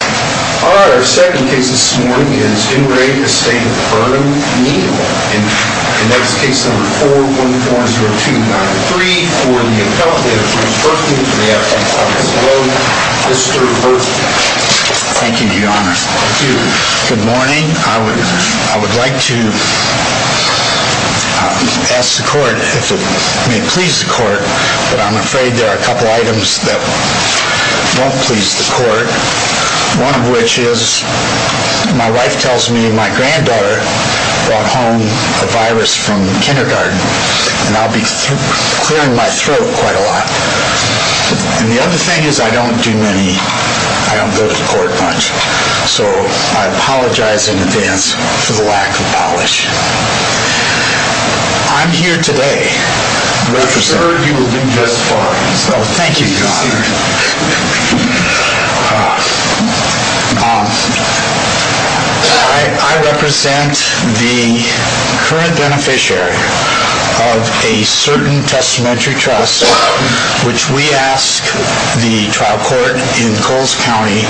Our second case this morning is in re. Estate of Vernon Neal and that's case number 4140293 for the accomplice, Mr. Burton. Thank you, Your Honor. Thank you. Good morning. I would like to ask the court if it may please the court, but I'm afraid there are a couple items that won't please the court. One of which is my wife tells me my granddaughter brought home a virus from kindergarten and I'll be clearing my throat quite a lot. And the other thing is I don't do many, I don't go to court much, so I apologize in advance for the lack of polish. I'm here today representing... I'm sure you will do just fine. Thank you, Your Honor. I represent the current beneficiary of a certain testamentary trust which we ask the trial court in Coles County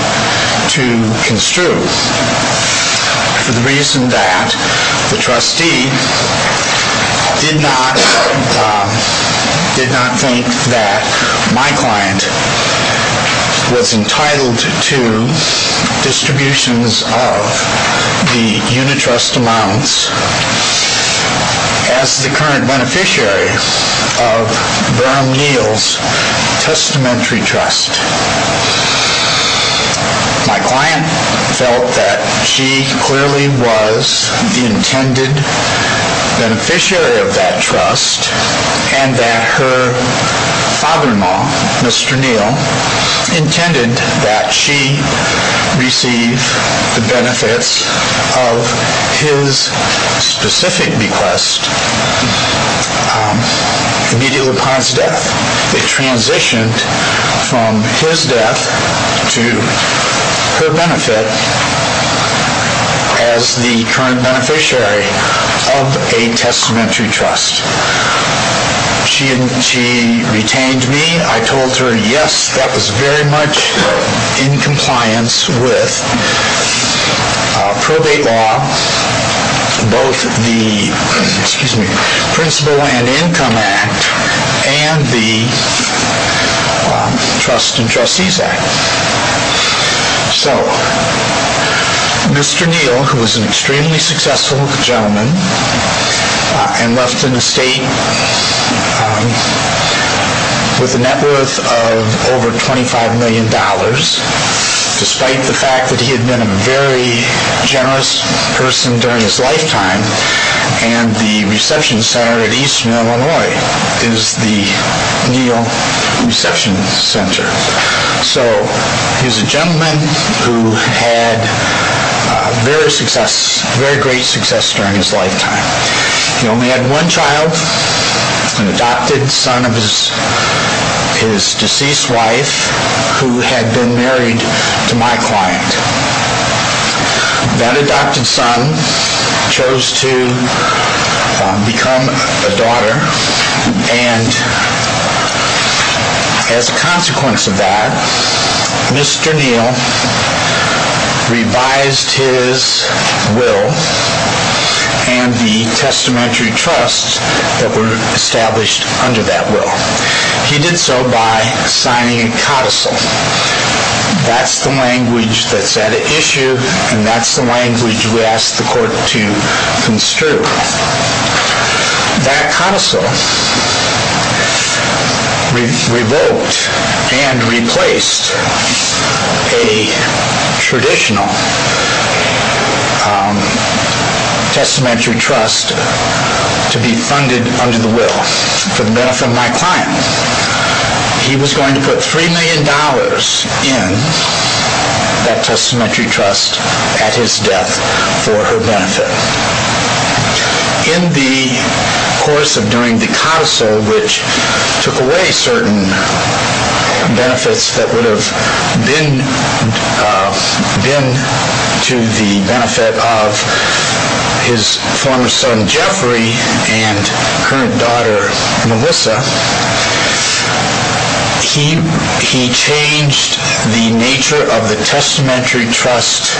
to construe. For the reason that the trustee did not think that my client was entitled to distributions of the unitrust amounts as the current beneficiary of Vernon Neal's testamentary trust. My client felt that she clearly was the intended beneficiary of that trust and that her father-in-law, Mr. Neal, intended that she receive the benefits of his specific request immediately upon his death. They transitioned from his death to her benefit as the current beneficiary of a testamentary trust. She retained me. I told her, yes, that was very much in compliance with probate law, both the Principal and Income Act and the Trust and Trustees Act. So, Mr. Neal, who was an extremely successful gentleman and left an estate with a net worth of over $25 million despite the fact that he had been a very generous person during his lifetime and the reception center at Eastern Illinois is the Neal Reception Center. So, he was a gentleman who had very great success during his lifetime. He only had one child, an adopted son of his deceased wife who had been married to my client. That adopted son chose to become a daughter and as a consequence of that, Mr. Neal revised his will and the testamentary trusts that were established under that will. He did so by signing a codicil. That's the language that's at issue and that's the language we asked the court to construe. That codicil revoked and replaced a traditional testamentary trust to be funded under the will for the benefit of my client. He was going to put $3 million in that testamentary trust at his death for her benefit. In the course of doing the codicil, which took away certain benefits that would have been to the benefit of his former son, Jeffrey, and current daughter, Melissa, he changed the nature of the testamentary trust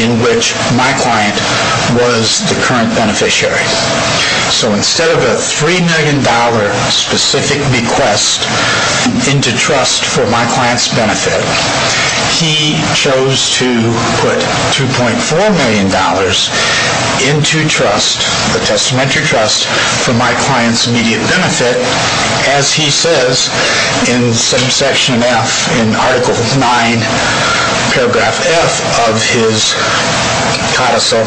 in which my client was the current beneficiary. So, instead of a $3 million specific request into trust for my client's benefit, he chose to put $2.4 million into the testamentary trust for my client's immediate benefit. As he says in section F, in article 9, paragraph F of his codicil,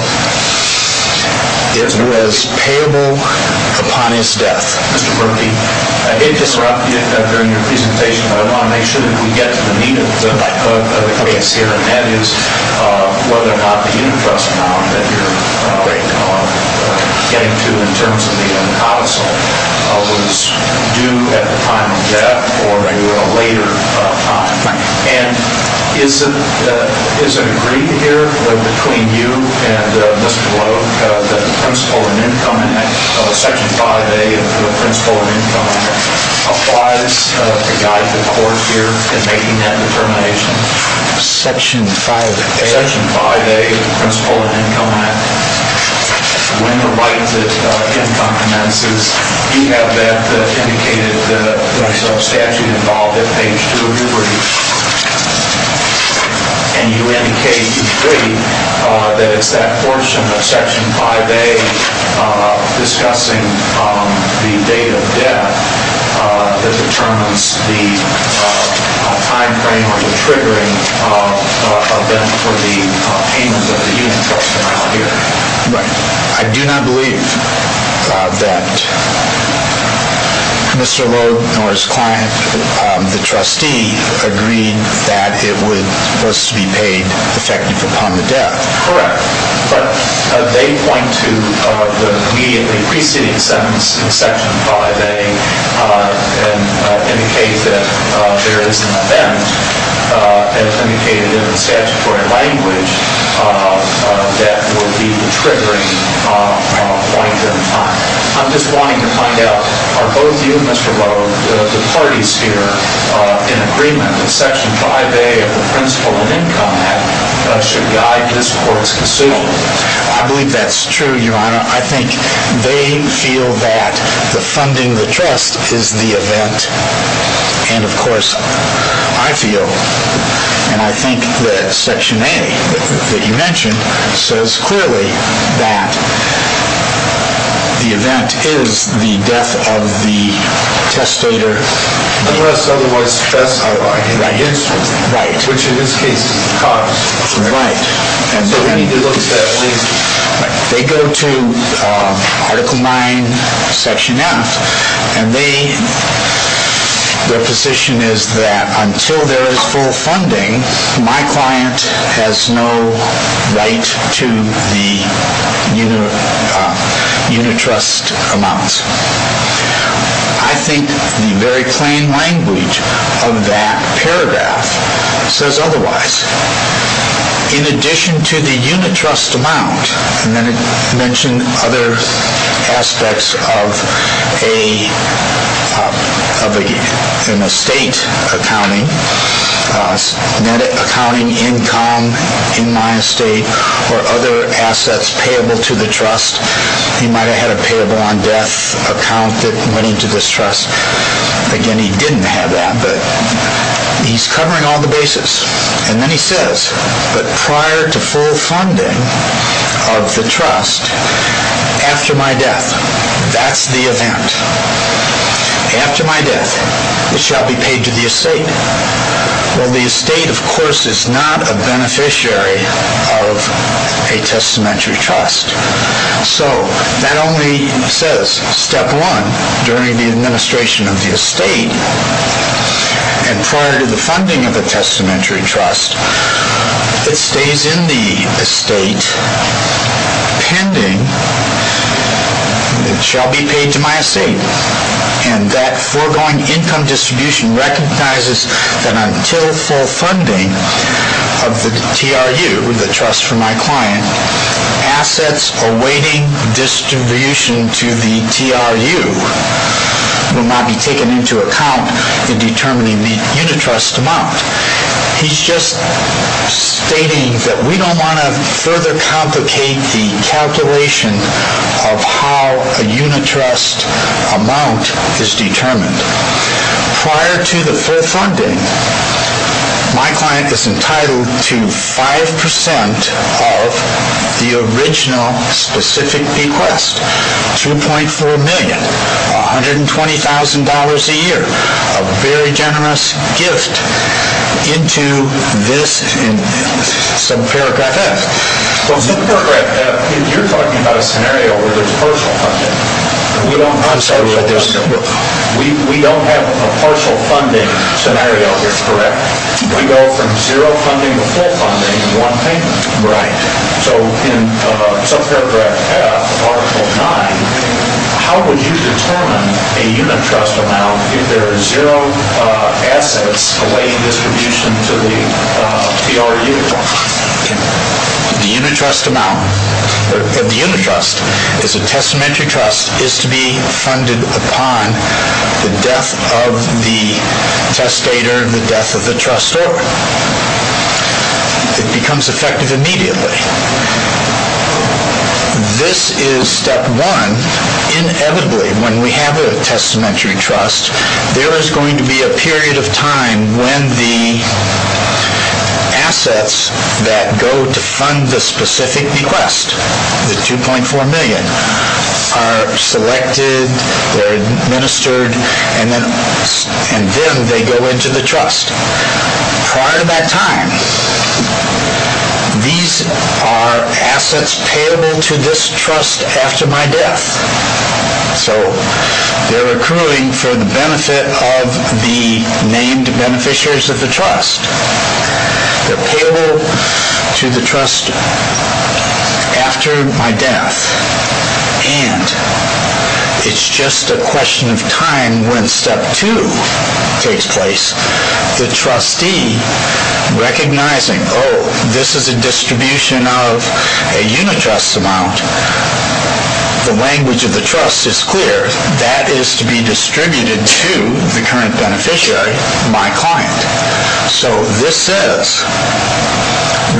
it was payable upon his death. I did interrupt you during your presentation. I want to make sure that we get to the meat of the case here, and that is whether or not the interest amount that you're getting to in terms of the codicil was due at the time of death or at a later time. And is it agreed here between you and Mr. Blow that the Principle of Income Act, section 5A of the Principle of Income Act, applies to guide the court here in making that determination? Section 5A of the Principle of Income Act. When the right to income commences, you have that indicated in the sub-statute involved at page 2 of your brief. And you indicate, you agree, that it's that portion of section 5A discussing the date of death that determines the time frame or the triggering event for the payment of the interest amount here. I do not believe that Mr. Blow nor his client, the trustee, agreed that it was to be paid effective upon the death. Correct. But they point to the immediately preceding sentence in section 5A and indicate that there is an event, as indicated in the statutory language, that would be the triggering point in time. I'm just wanting to find out, are both you and Mr. Blow, the parties here, in agreement that section 5A of the Principle of Income Act should guide this court's decision? I believe that's true, Your Honor. I think they feel that the funding of the trust is the event. And, of course, I feel, and I think that section A that you mentioned says clearly that the event is the death of the testator. Unless otherwise specified. Right. Which, in this case, is the cause. Right. So we need to look at that. They go to Article 9, Section F, and their position is that until there is full funding, my client has no right to the unit trust amounts. I think the very plain language of that paragraph says otherwise. In addition to the unit trust amount, and then it mentioned other aspects of an estate accounting, net accounting income in my estate, or other assets payable to the trust. He might have had a payable on death account that went into this trust. Again, he didn't have that. He's covering all the bases. And then he says, but prior to full funding of the trust, after my death, that's the event. After my death, it shall be paid to the estate. Well, the estate, of course, is not a beneficiary of a testamentary trust. So that only says, step one, during the administration of the estate, and prior to the funding of the testamentary trust, it stays in the estate, pending, it shall be paid to my estate. And that foregoing income distribution recognizes that until full funding of the TRU, the trust for my client, assets awaiting distribution to the TRU will not be taken into account in determining the unit trust amount. He's just stating that we don't want to further complicate the calculation of how a unit trust amount is determined. Prior to the full funding, my client is entitled to 5% of the original specific bequest, $2.4 million, $120,000 a year, a very generous gift into this subparagraph F. Well, subparagraph F, you're talking about a scenario where there's partial funding. We don't have a partial funding scenario here, correct? We go from zero funding to full funding in one payment. Right. So in subparagraph F of Article 9, how would you determine a unit trust amount if there are zero assets awaiting distribution to the TRU? The unit trust amount, or the unit trust is a testamentary trust, is to be funded upon the death of the testator, the death of the trustor. It becomes effective immediately. This is step one. Inevitably, when we have a testamentary trust, there is going to be a period of time when the assets that go to fund the specific bequest, the $2.4 million, are selected, they're administered, and then they go into the trust. Prior to that time, these are assets payable to this trust after my death. So they're accruing for the benefit of the named beneficiaries of the trust. They're payable to the trust after my death. And it's just a question of time when step two takes place, the trustee recognizing, oh, this is a distribution of a unit trust amount. The language of the trust is clear. That is to be distributed to the current beneficiary, my client. So this is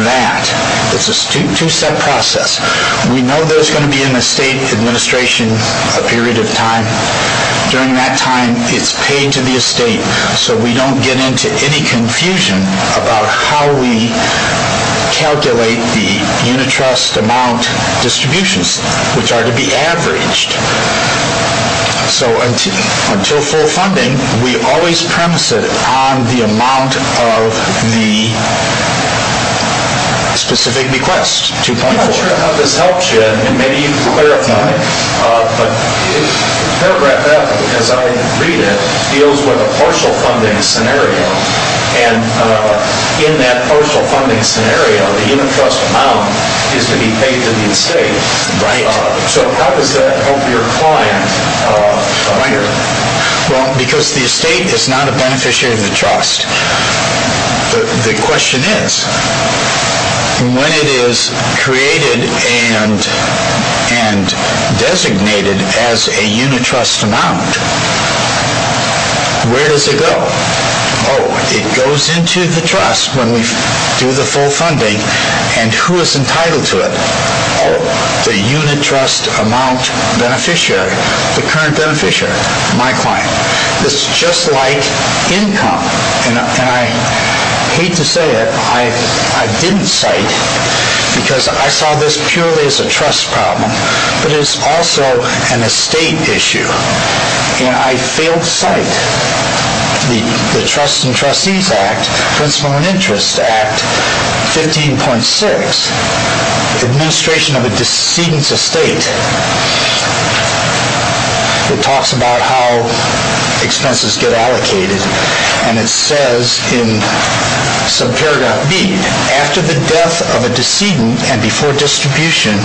that. It's a two-step process. We know there's going to be an estate administration period of time. During that time, it's paid to the estate so we don't get into any confusion about how we calculate the unit trust amount distributions, which are to be averaged. So until full funding, we always premise it on the amount of the specific bequest, $2.4. I'm not sure how this helps you, and maybe you can clarify, but paragraph F, as I read it, deals with a partial funding scenario. And in that partial funding scenario, the unit trust amount is to be paid to the estate. So how does that help your client find it? Well, because the estate is not a beneficiary of the trust. The question is, when it is created and designated as a unit trust amount, where does it go? Oh, it goes into the trust when we do the full funding. And who is entitled to it? Oh, the unit trust amount beneficiary, the current beneficiary, my client. This is just like income. And I hate to say it, I didn't cite, because I saw this purely as a trust problem, but it is also an estate issue. And I failed to cite the Trusts and Trustees Act, Principle of Interest Act 15.6, administration of a decedent's estate. It talks about how expenses get allocated, and it says in subparagraph B, after the death of a decedent and before distribution,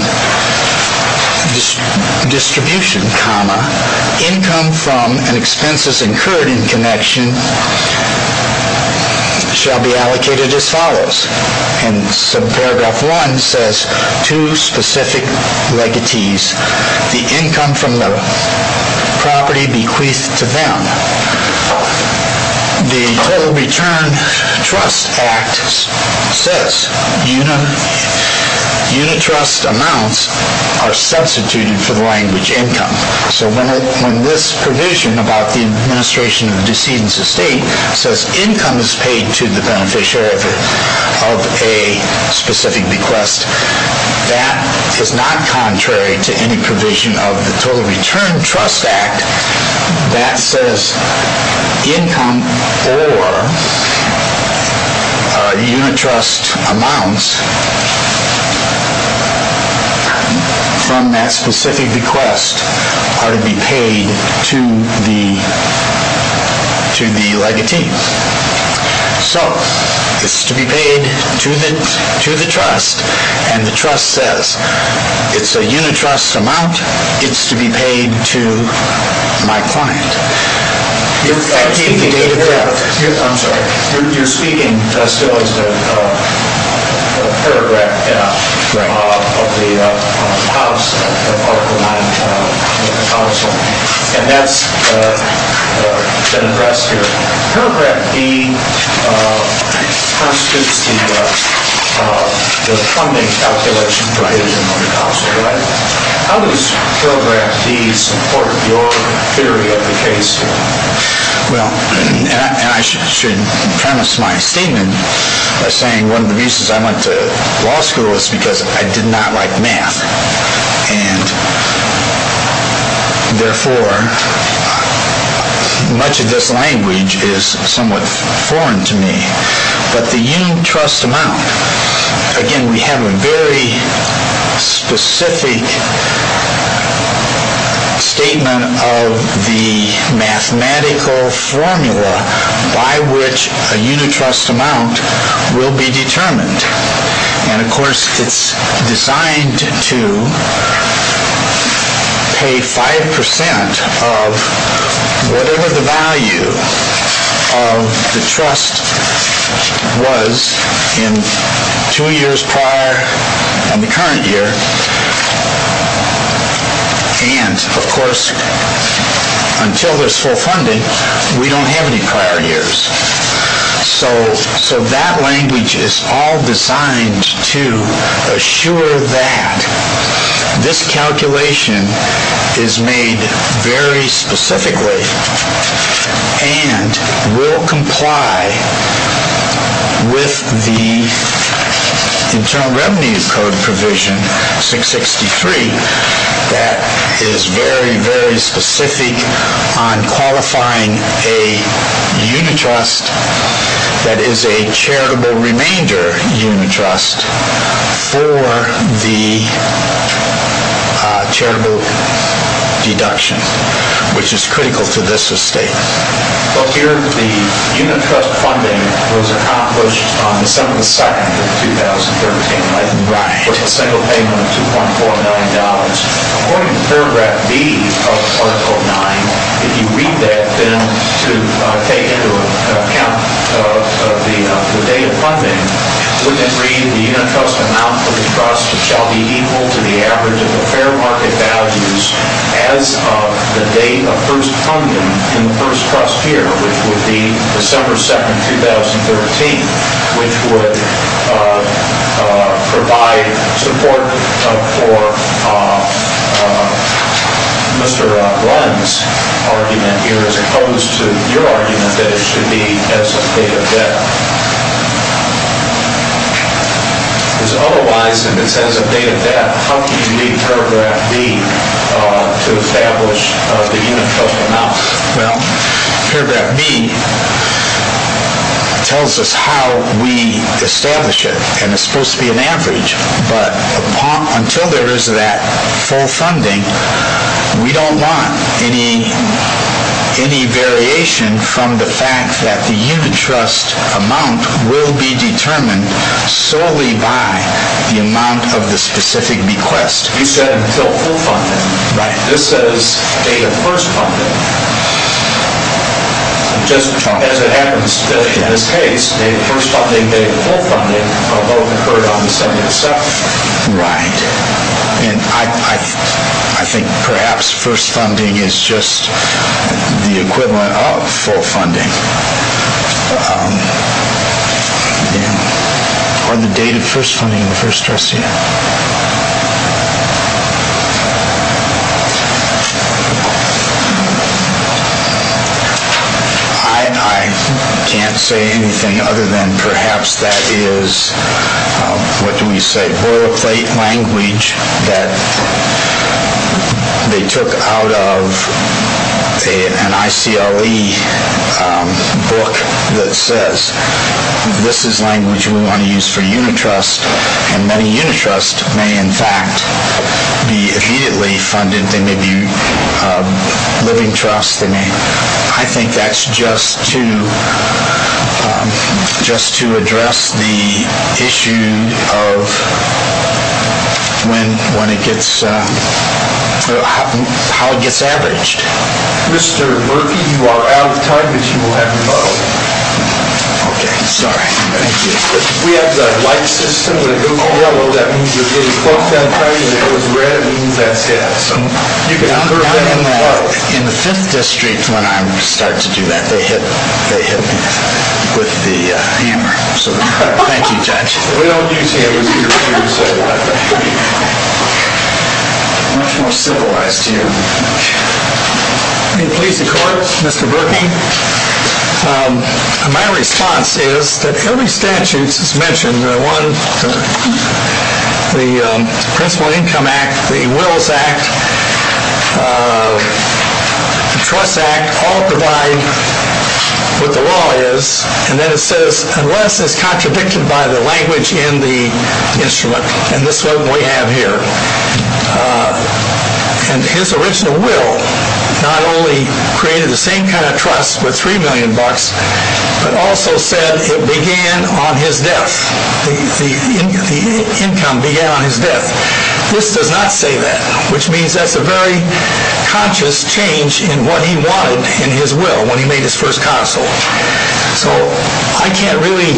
income from an expenses incurred in connection shall be allocated as follows. And subparagraph 1 says, to specific legatees, the income from the property bequeathed to them. The Total Return Trust Act says unit trust amounts are substituted for the language income. So when this provision about the administration of the decedent's estate says income is paid to the beneficiary of a specific bequest, that is not contrary to any provision of the Total Return Trust Act that says income or unit trust amounts from that specific bequest are to be paid to the legatee. So it's to be paid to the trust, and the trust says it's a unit trust amount, it's to be paid to my client. You're speaking still to Paragraph F of the House, and that's been addressed here. Paragraph D constitutes the funding calculation provision of the House, right? How does Paragraph D support your theory of the case here? Well, and I should premise my statement by saying one of the reasons I went to law school was because I did not like math, and therefore much of this language is somewhat foreign to me. But the unit trust amount, again, we have a very specific statement of the mathematical formula by which a unit trust amount will be determined. And, of course, it's designed to pay 5% of whatever the value of the trust was in two years prior in the current year. And, of course, until there's full funding, we don't have any prior years. So that language is all designed to assure that this calculation is made very specifically and will comply with the Internal Revenue Code provision 663 that is very, very specific on qualifying a unit trust that is a charitable remainder unit trust for the charitable deduction, which is critical to this estate. Well, here the unit trust funding was accomplished on December 2nd of 2013 with a single payment of $2.49 million. According to Paragraph B of Article 9, if you read that then to take into account the date of funding, wouldn't it read, the unit trust amount for the trust shall be equal to the average of the fair market values as of the date of first funding in the first trust year, which would be December 2nd, 2013, which would provide support for Mr. Blunt's argument here as opposed to your argument that it should be as of date of debt. Because otherwise, if it says as of date of debt, how can you read Paragraph B to establish the unit trust amount? Well, Paragraph B tells us how we establish it, and it's supposed to be an average. But until there is that full funding, we don't want any variation from the fact that the unit trust amount will be determined solely by the amount of the specific bequest. You said until full funding. This says date of first funding. Just as it happens today, in this case, date of first funding and date of full funding are both incurred on December 2nd. Right. And I think perhaps first funding is just the equivalent of full funding. Are the date of first funding in the first trust year? I can't say anything other than perhaps that is, what do we say, boilerplate language that they took out of an ICLE book that says, this is language we want to use for unit trust, and many unit trusts may, in fact, be immediately funded. They may be living trusts. I think that's just to address the issue of how it gets averaged. Mr. Murphy, you are out of time, but you will have your model. Okay. Sorry. Thank you. We have the light system that goes yellow. That means you're getting close that time. If it goes red, it means that's gas. In the Fifth District, when I'm starting to do that, they hit me with the hammer. Thank you, Judge. We don't use hammers either, so much more civilized here. May it please the Court, Mr. Murphy. My response is that every statute that's mentioned, the Principal Income Act, the Wills Act, the Trust Act, all provide what the law is, and then it says, unless it's contradicted by the language in the instrument, and this is what we have here, and his original will not only created the same kind of trust with $3 million, but also said it began on his death. The income began on his death. This does not say that, which means that's a very conscious change in what he wanted in his will when he made his first council. So I can't really,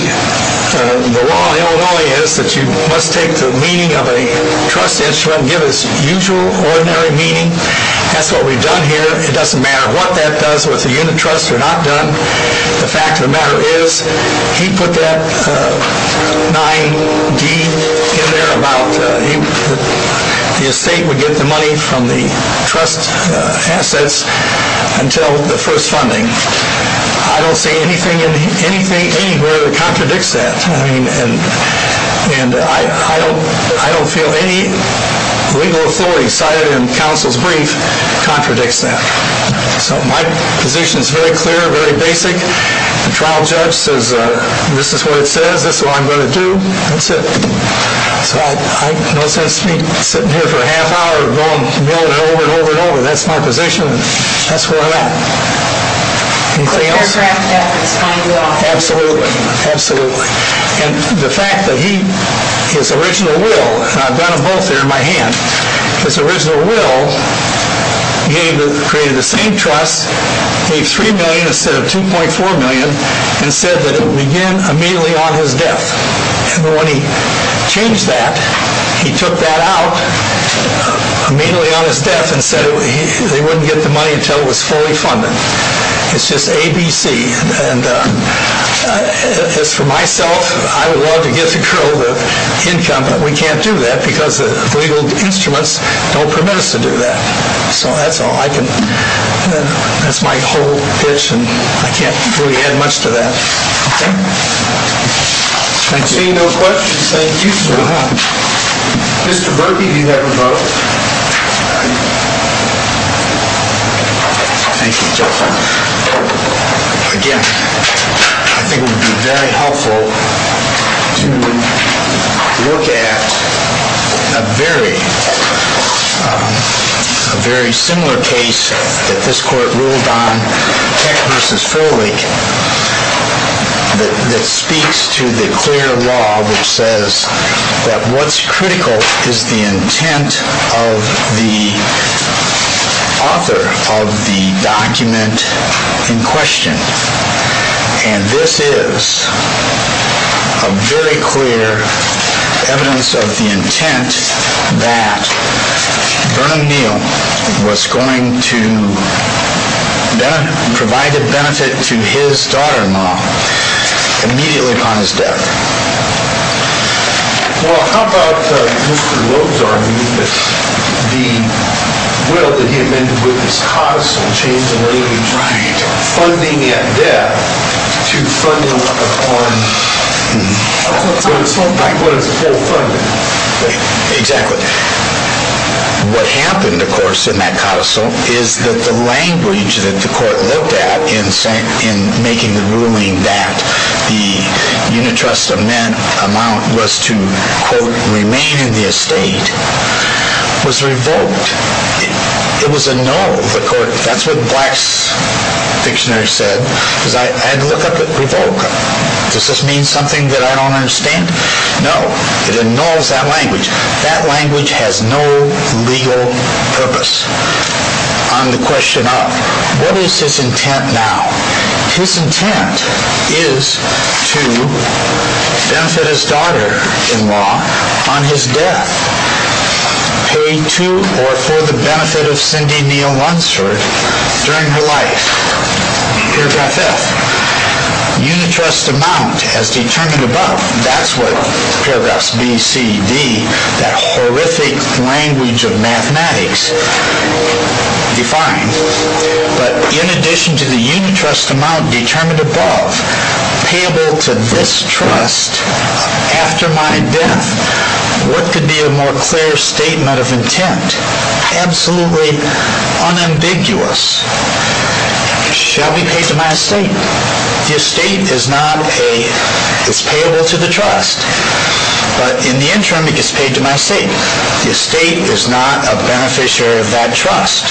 the law in Illinois is that you must take the meaning of a trust instrument and give it its usual, ordinary meaning. That's what we've done here. It doesn't matter what that does with the unit trust. We're not done. The fact of the matter is he put that 9D in there about the estate would get the money from the trust assets until the first funding. I don't see anything anywhere that contradicts that, and I don't feel any legal authority cited in counsel's brief contradicts that. So my position is very clear, very basic. The trial judge says this is what it says, this is what I'm going to do, and that's it. So it makes no sense for me to sit here for a half hour going over and over and over. That's my position, and that's where I'm at. The aircraft deck is $20 million. Absolutely, absolutely. And the fact that he, his original will, and I've got them both there in my hand. His original will created the same trust, gave $3 million instead of $2.4 million, and said that it would begin immediately on his death. But when he changed that, he took that out immediately on his death and said they wouldn't get the money until it was fully funded. It's just A, B, C. And as for myself, I would love to get to grow the income, but we can't do that because the legal instruments don't permit us to do that. So that's all I can, that's my whole pitch, and I can't really add much to that. I see no questions. Thank you, sir. Mr. Berkey, do you have a vote? Thank you, gentlemen. Again, I think it would be very helpful to look at a very similar case that this court ruled on, that speaks to the clear law which says that what's critical is the intent of the author of the document in question. And this is a very clear evidence of the intent that Vernon Neal was going to provide a benefit to his daughter-in-law immediately upon his death. Well, how about Mr. Loeb's argument that the will that he amended with his codicil changed the language from funding at death to funding upon what is full funding? Exactly. What happened, of course, in that codicil is that the language that the court looked at in making the ruling that the unitrust amount was to, quote, remain in the estate was revoked. It was a no. That's what Black's dictionary said. I had to look up revoke. Does this mean something that I don't understand? No. It annuls that language. That language has no legal purpose on the question of what is his intent now. His intent is to benefit his daughter-in-law on his death, pay to or for the benefit of Cindy Neal Lunsford during her life. Paragraph F, unitrust amount as determined above. That's what paragraphs B, C, D, that horrific language of mathematics, define. But in addition to the unitrust amount determined above payable to this trust after my death, what could be a more clear statement of intent, absolutely unambiguous? It shall be paid to my estate. The estate is payable to the trust, but in the interim it gets paid to my estate. The estate is not a beneficiary of that trust.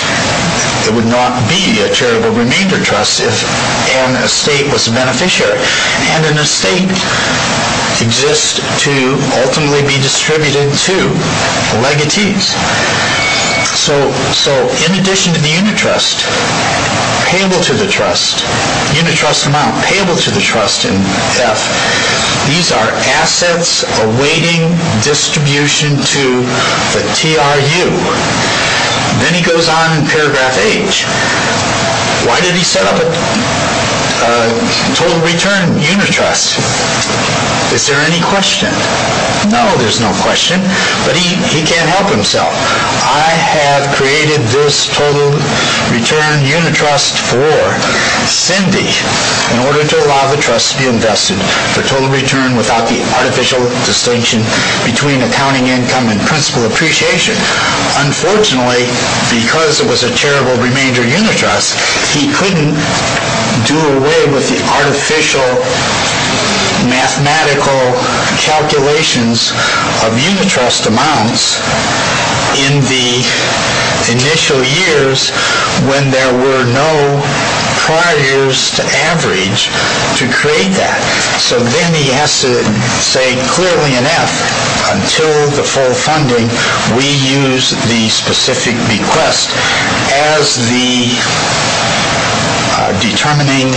It would not be a charitable remainder trust if an estate was a beneficiary, and an estate exists to ultimately be distributed to the legatees. So in addition to the unitrust, payable to the trust, unitrust amount payable to the trust in F, these are assets awaiting distribution to the TRU. Then he goes on in paragraph H. Why did he set up a total return unitrust? Is there any question? No, there's no question, but he can't help himself. I have created this total return unitrust for Cindy in order to allow the trust to be invested for total return without the artificial distinction between accounting income and principal appreciation. Unfortunately, because it was a charitable remainder unitrust, he couldn't do away with the artificial mathematical calculations of unitrust amounts in the initial years when there were no prior years to average to create that. So then he has to say clearly in F, until the full funding, we use the specific bequest as the determining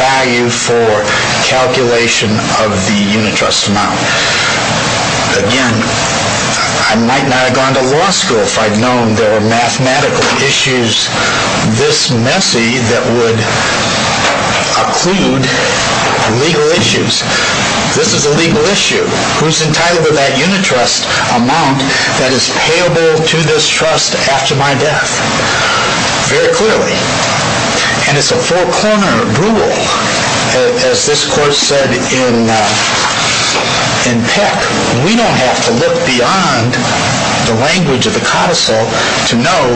value for calculation of the unitrust amount. Again, I might not have gone to law school if I'd known there were mathematical issues this messy that would occlude legal issues. This is a legal issue. Who's entitled to that unitrust amount that is payable to this trust after my death? Very clearly. And it's a full-corner rule. As this Court said in Peck, we don't have to look beyond the language of the codicil to know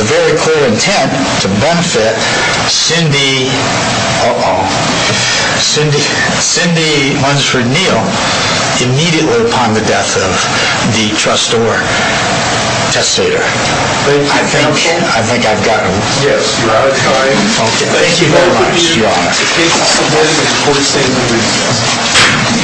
the very clear intent to benefit Cindy Munsford Neal immediately upon the death of the trustor testator. Thank you, counsel. I think I've gotten it. Yes, you have. Thank you very much. You are.